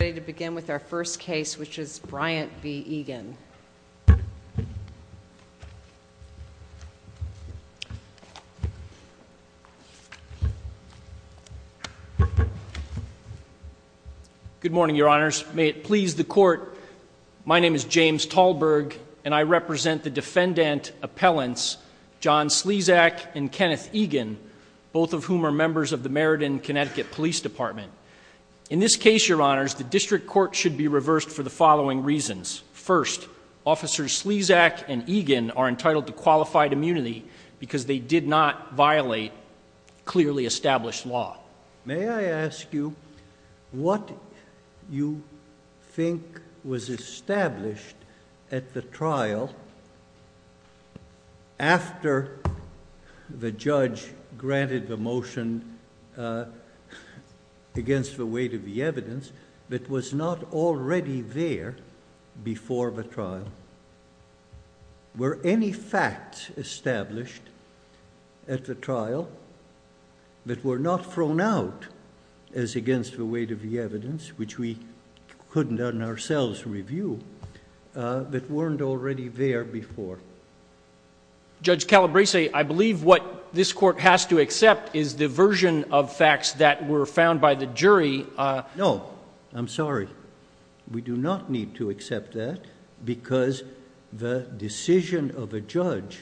Ready to begin with our first case, which is Bryant v. Egan. Good morning, your honors. May it please the court, my name is James Talberg and I represent the defendant appellants John Slezak and Kenneth Egan, both of whom are members of the Meriden Connecticut Police Department. In this case, your honors, the district court should be reversed for the following reasons. First, officers Slezak and Egan are entitled to qualified immunity because they did not violate clearly established law. May I ask you what you think was established at the trial after the judge granted the motion against the weight of the evidence that was not already there before the trial? Were any facts established at the trial that were not thrown out as against the weight of the evidence, which we couldn't ourselves review, that weren't already there before? Judge Calabresi, I believe what this court has to accept is the version of facts that were found by the jury. No, I'm sorry. We do not need to accept that because the decision of a judge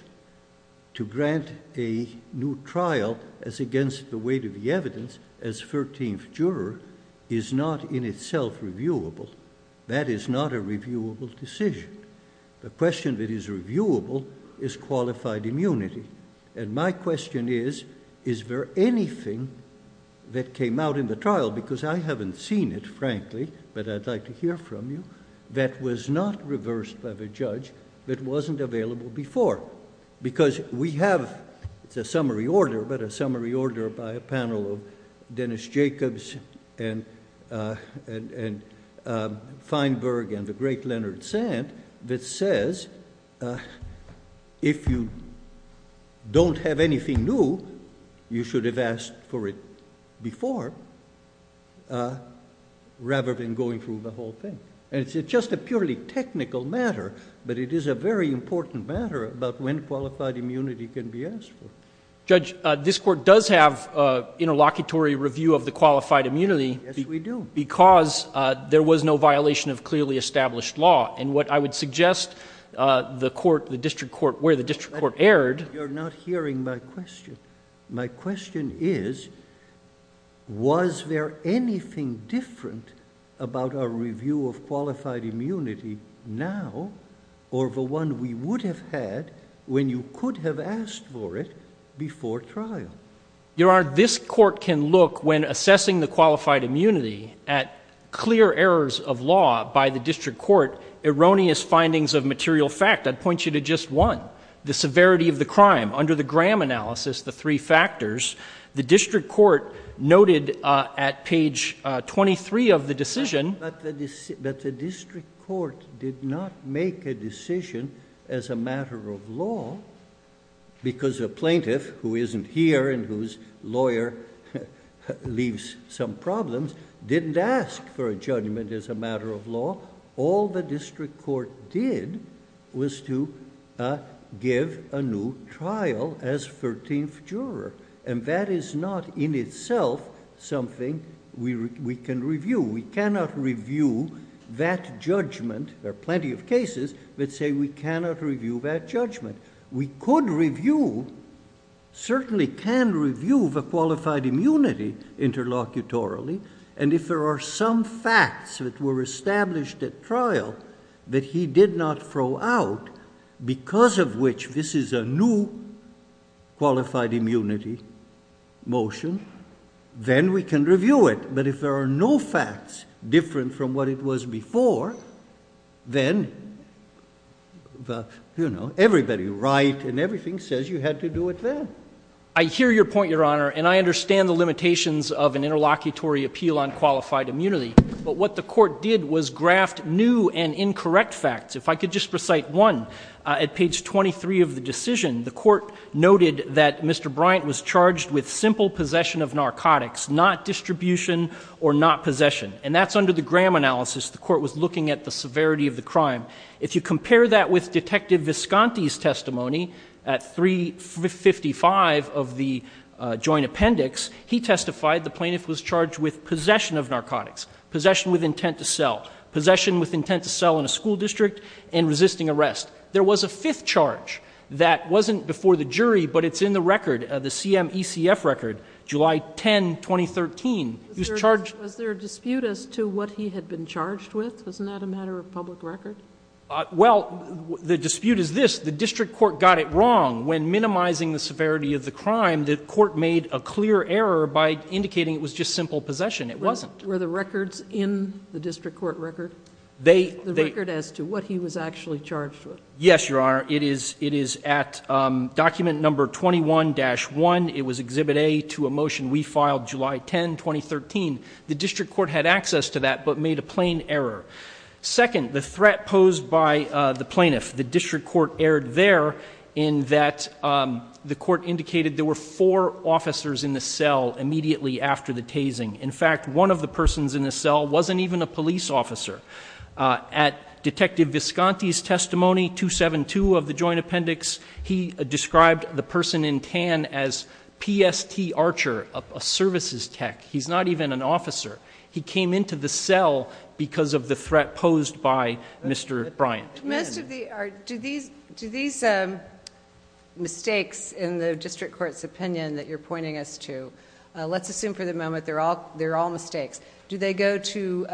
to grant a new trial as against the weight of the evidence as 13th juror is not in itself reviewable. That is not a reviewable decision. The question that is reviewable is qualified immunity. And my question is, is there anything that came out in the trial, because I haven't seen it, frankly, but I'd like to hear from you, that was not reversed by the judge that wasn't available before? Because we have, it's a summary order, but a summary order by a panel of Dennis Jacobs and Feinberg and the great Leonard Sand that says if you don't have anything new, you should have asked for it before rather than going through the whole thing. And it's just a purely technical matter, but it is a very important matter about when qualified immunity can be asked for. Judge, this court does have interlocutory review of the qualified immunity. Yes, we do. Because there was no violation of clearly established law. And what I would suggest the court, the district court, where the district court erred. You're not hearing my question. My question is, was there anything different about our review of qualified immunity now or the one we would have had when you could have asked for it before trial? Your Honor, this court can look, when assessing the qualified immunity, at clear errors of law by the district court, erroneous findings of material fact. I'd point you to just one. The severity of the crime. Under the Graham analysis, the three factors, the district court noted at page 23 of the decision. But the district court did not make a decision as a matter of law because a plaintiff who isn't here and whose lawyer leaves some problems didn't ask for a judgment as a matter of law. All the district court did was to give a new trial as 13th juror. And that is not in itself something we can review. We cannot review that judgment. There are plenty of cases that say we cannot review that judgment. We could review, certainly can review the qualified immunity interlocutorily. And if there are some facts that were established at trial that he did not throw out because of which this is a new qualified immunity motion, then we can review it. But if there are no facts different from what it was before, then, you know, everybody right and everything says you had to do it then. I hear your point, Your Honor, and I understand the limitations of an interlocutory appeal on qualified immunity. But what the court did was graft new and incorrect facts. If I could just recite one. At page 23 of the decision, the court noted that Mr. Bryant was charged with simple possession of narcotics, not distribution or not possession. And that's under the Graham analysis. The court was looking at the severity of the crime. If you compare that with Detective Visconti's testimony at 355 of the joint appendix, he testified the plaintiff was charged with possession of narcotics, possession with intent to sell, possession with intent to sell in a school district, and resisting arrest. There was a fifth charge that wasn't before the jury, but it's in the record, the CMECF record, July 10, 2013. He was charged- Was there a dispute as to what he had been charged with? Isn't that a matter of public record? Well, the dispute is this. The district court got it wrong. When minimizing the severity of the crime, the court made a clear error by indicating it was just simple possession. It wasn't. Were the records in the district court record? They- The record as to what he was actually charged with. Yes, Your Honor. It is at document number 21-1. It was Exhibit A to a motion we filed July 10, 2013. The district court had access to that but made a plain error. Second, the threat posed by the plaintiff. The district court erred there in that the court indicated there were four officers in the cell immediately after the tasing. In fact, one of the persons in the cell wasn't even a police officer. At Detective Visconti's testimony, 272 of the joint appendix, he described the person in tan as PST Archer, a services tech. He's not even an officer. He came into the cell because of the threat posed by Mr. Bryant. Most of the- Do these mistakes in the district court's opinion that you're pointing us to, let's assume for the moment they're all mistakes, do they go to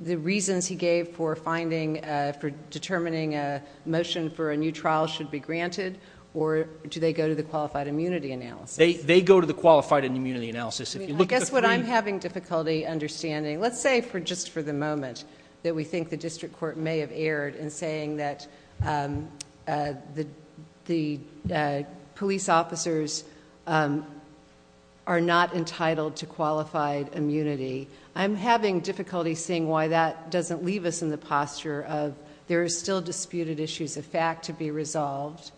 the reasons he gave for finding, for determining a motion for a new trial should be granted or do they go to the qualified immunity analysis? They go to the qualified immunity analysis. I guess what I'm having difficulty understanding, let's say just for the moment, that we think the district court may have erred in saying that the police officers are not entitled to qualified immunity. I'm having difficulty seeing why that doesn't leave us in the posture of there are still disputed issues of fact to be resolved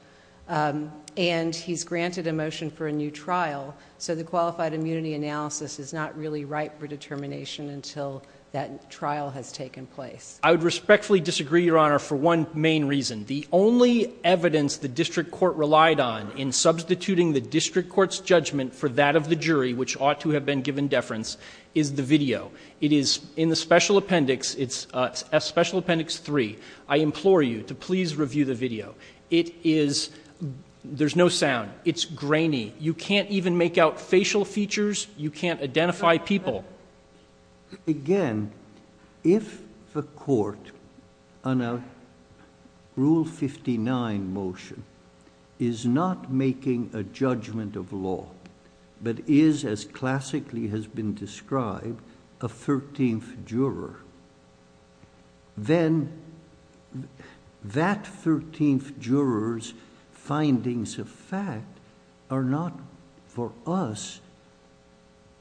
and he's granted a motion for a new trial, so the qualified immunity analysis is not really ripe for determination until that trial has taken place. I would respectfully disagree, Your Honor, for one main reason. The only evidence the district court relied on in substituting the district court's judgment for that of the jury, which ought to have been given deference, is the video. It is in the special appendix. It's special appendix three. I implore you to please review the video. It is – there's no sound. It's grainy. You can't even make out facial features. You can't identify people. Again, if the court on a Rule 59 motion is not making a judgment of law but is, as classically has been described, a thirteenth juror, then that thirteenth juror's findings of fact are not, for us,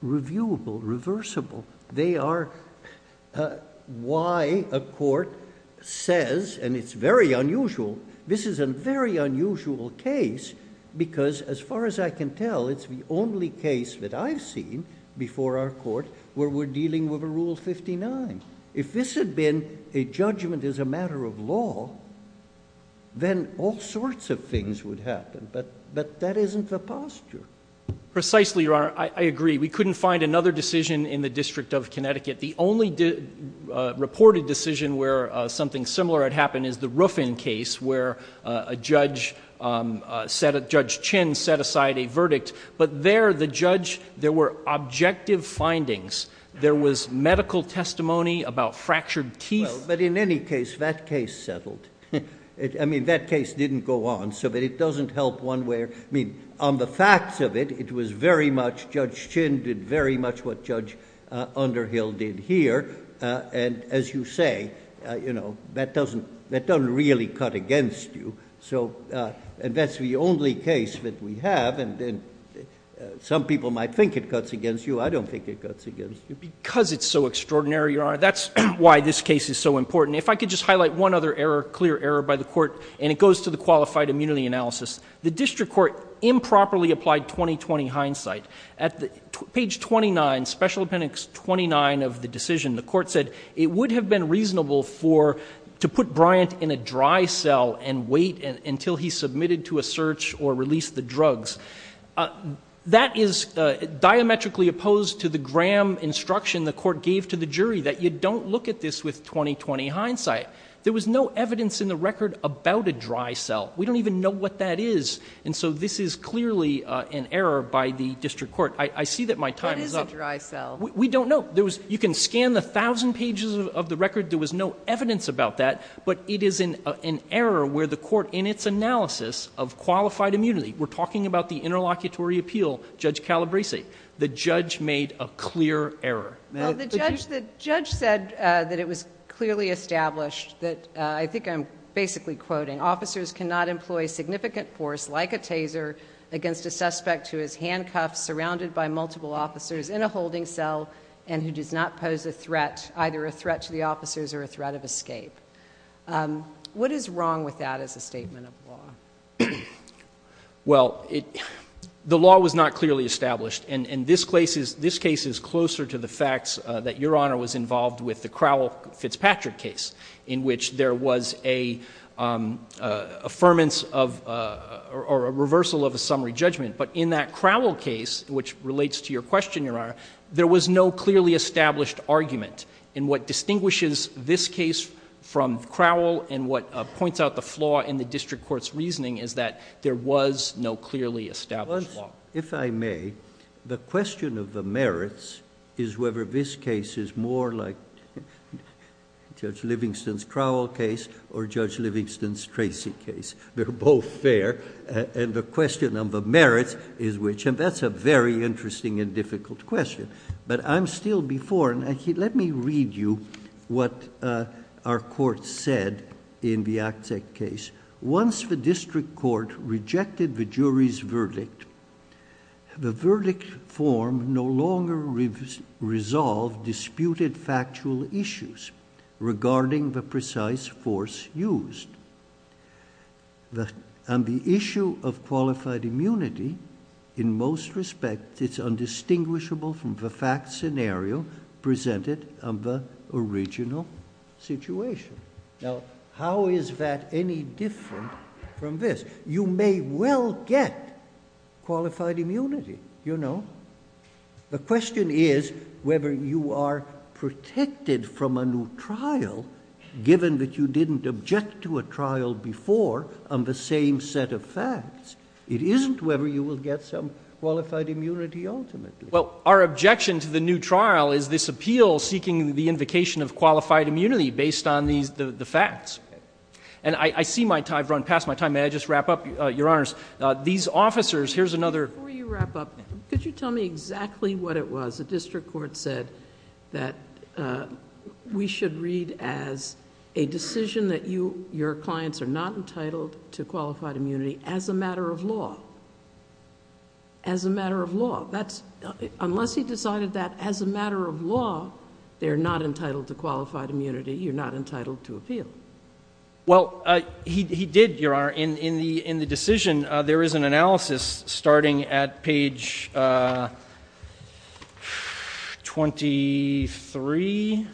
reviewable, reversible. They are why a court says, and it's very unusual, this is a very unusual case because, as far as I can tell, it's the only case that I've seen before our court where we're dealing with a Rule 59. If this had been a judgment as a matter of law, then all sorts of things would happen, but that isn't the posture. Precisely, Your Honor. I agree. We couldn't find another decision in the District of Connecticut. The only reported decision where something similar had happened is the Ruffin case where Judge Chin set aside a verdict, but there, the judge, there were objective findings. There was medical testimony about fractured teeth. Well, but in any case, that case settled. I mean, that case didn't go on, so it doesn't help one way or the other. I mean, on the facts of it, it was very much Judge Chin did very much what Judge Underhill did here, and as you say, you know, that doesn't really cut against you. So that's the only case that we have, and some people might think it cuts against you. I don't think it cuts against you. Because it's so extraordinary, Your Honor, that's why this case is so important. If I could just highlight one other error, clear error by the court, and it goes to the qualified immunity analysis. The district court improperly applied 20-20 hindsight. At page 29, special appendix 29 of the decision, the court said it would have been reasonable for, to put Bryant in a dry cell and wait until he submitted to a search or released the drugs. That is diametrically opposed to the Graham instruction the court gave to the jury, that you don't look at this with 20-20 hindsight. There was no evidence in the record about a dry cell. We don't even know what that is, and so this is clearly an error by the district court. I see that my time is up. What is a dry cell? We don't know. You can scan the thousand pages of the record, there was no evidence about that, but it is an error where the court in its analysis of qualified immunity, we're talking about the interlocutory appeal, Judge Calabresi, the judge made a clear error. The judge said that it was clearly established that, I think I'm basically quoting, officers cannot employ significant force like a taser against a suspect who is handcuffed, surrounded by multiple officers in a holding cell, and who does not pose a threat, either a threat to the officers or a threat of escape. What is wrong with that as a statement of law? Well, the law was not clearly established, and this case is closer to the facts that Your Honor was involved with, the Crowell-Fitzpatrick case, in which there was a reversal of a summary judgment. But in that Crowell case, which relates to your question, Your Honor, there was no clearly established argument. And what distinguishes this case from Crowell and what points out the flaw in the district court's reasoning is that there was no clearly established law. Well, if I may, the question of the merits is whether this case is more like Judge Livingston's Crowell case or Judge Livingston's Tracy case. They're both fair, and the question of the merits is which, and that's a very interesting and difficult question. But I'm still before, and let me read you what our court said in the Akzek case. Once the district court rejected the jury's verdict, the verdict form no longer resolved disputed factual issues regarding the precise force used. On the issue of qualified immunity, in most respects, it's indistinguishable from the fact scenario presented on the original situation. Now, how is that any different from this? You may well get qualified immunity, you know. The question is whether you are protected from a new trial, given that you didn't object to a trial before on the same set of facts. It isn't whether you will get some qualified immunity ultimately. Well, our objection to the new trial is this appeal seeking the invocation of qualified immunity based on the facts. And I've run past my time. May I just wrap up, Your Honors? These officers, here's another... Before you wrap up, could you tell me exactly what it was the district court said that we should read as a decision that your clients are not entitled to qualified immunity as a matter of law? As a matter of law. Unless he decided that as a matter of law, they're not entitled to qualified immunity, you're not entitled to appeal. Well, he did, Your Honor. In the decision, there is an analysis starting at page 23.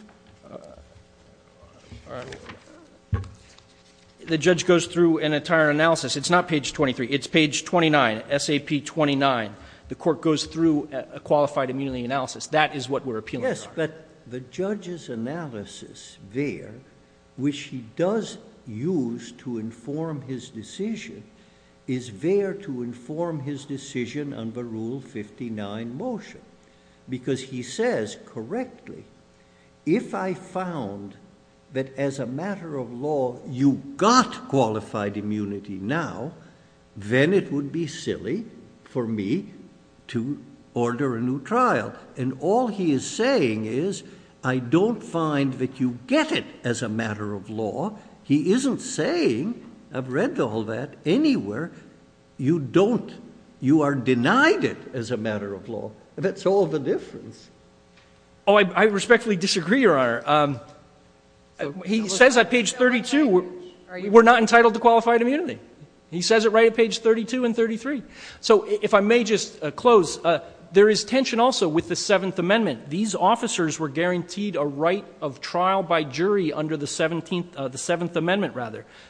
The judge goes through an entire analysis. It's not page 23. It's page 29, SAP 29. The court goes through a qualified immunity analysis. That is what we're appealing to. Yes, but the judge's analysis there, which he does use to inform his decision, is there to inform his decision under Rule 59 motion. Because he says correctly, if I found that as a matter of law, you got qualified immunity now, then it would be silly for me to order a new trial. And all he is saying is, I don't find that you get it as a matter of law. He isn't saying, I've read all that anywhere, you are denied it as a matter of law. That's all the difference. Oh, I respectfully disagree, Your Honor. He says at page 32, we're not entitled to qualified immunity. He says it right at page 32 and 33. So if I may just close, there is tension also with the Seventh Amendment. These officers were guaranteed a right of trial by jury under the Seventh Amendment.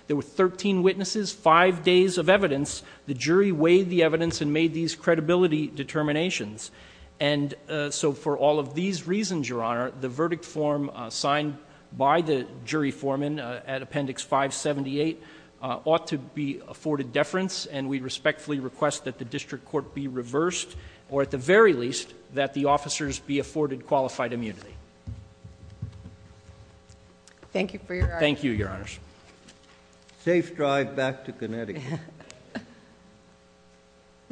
There were 13 witnesses, 5 days of evidence. The jury weighed the evidence and made these credibility determinations. And so for all of these reasons, Your Honor, the verdict form signed by the jury foreman at Appendix 578 ought to be afforded deference, and we respectfully request that the district court be reversed, or at the very least, that the officers be afforded qualified immunity. Thank you for your honor. Thank you, Your Honors. Safe drive back to Connecticut.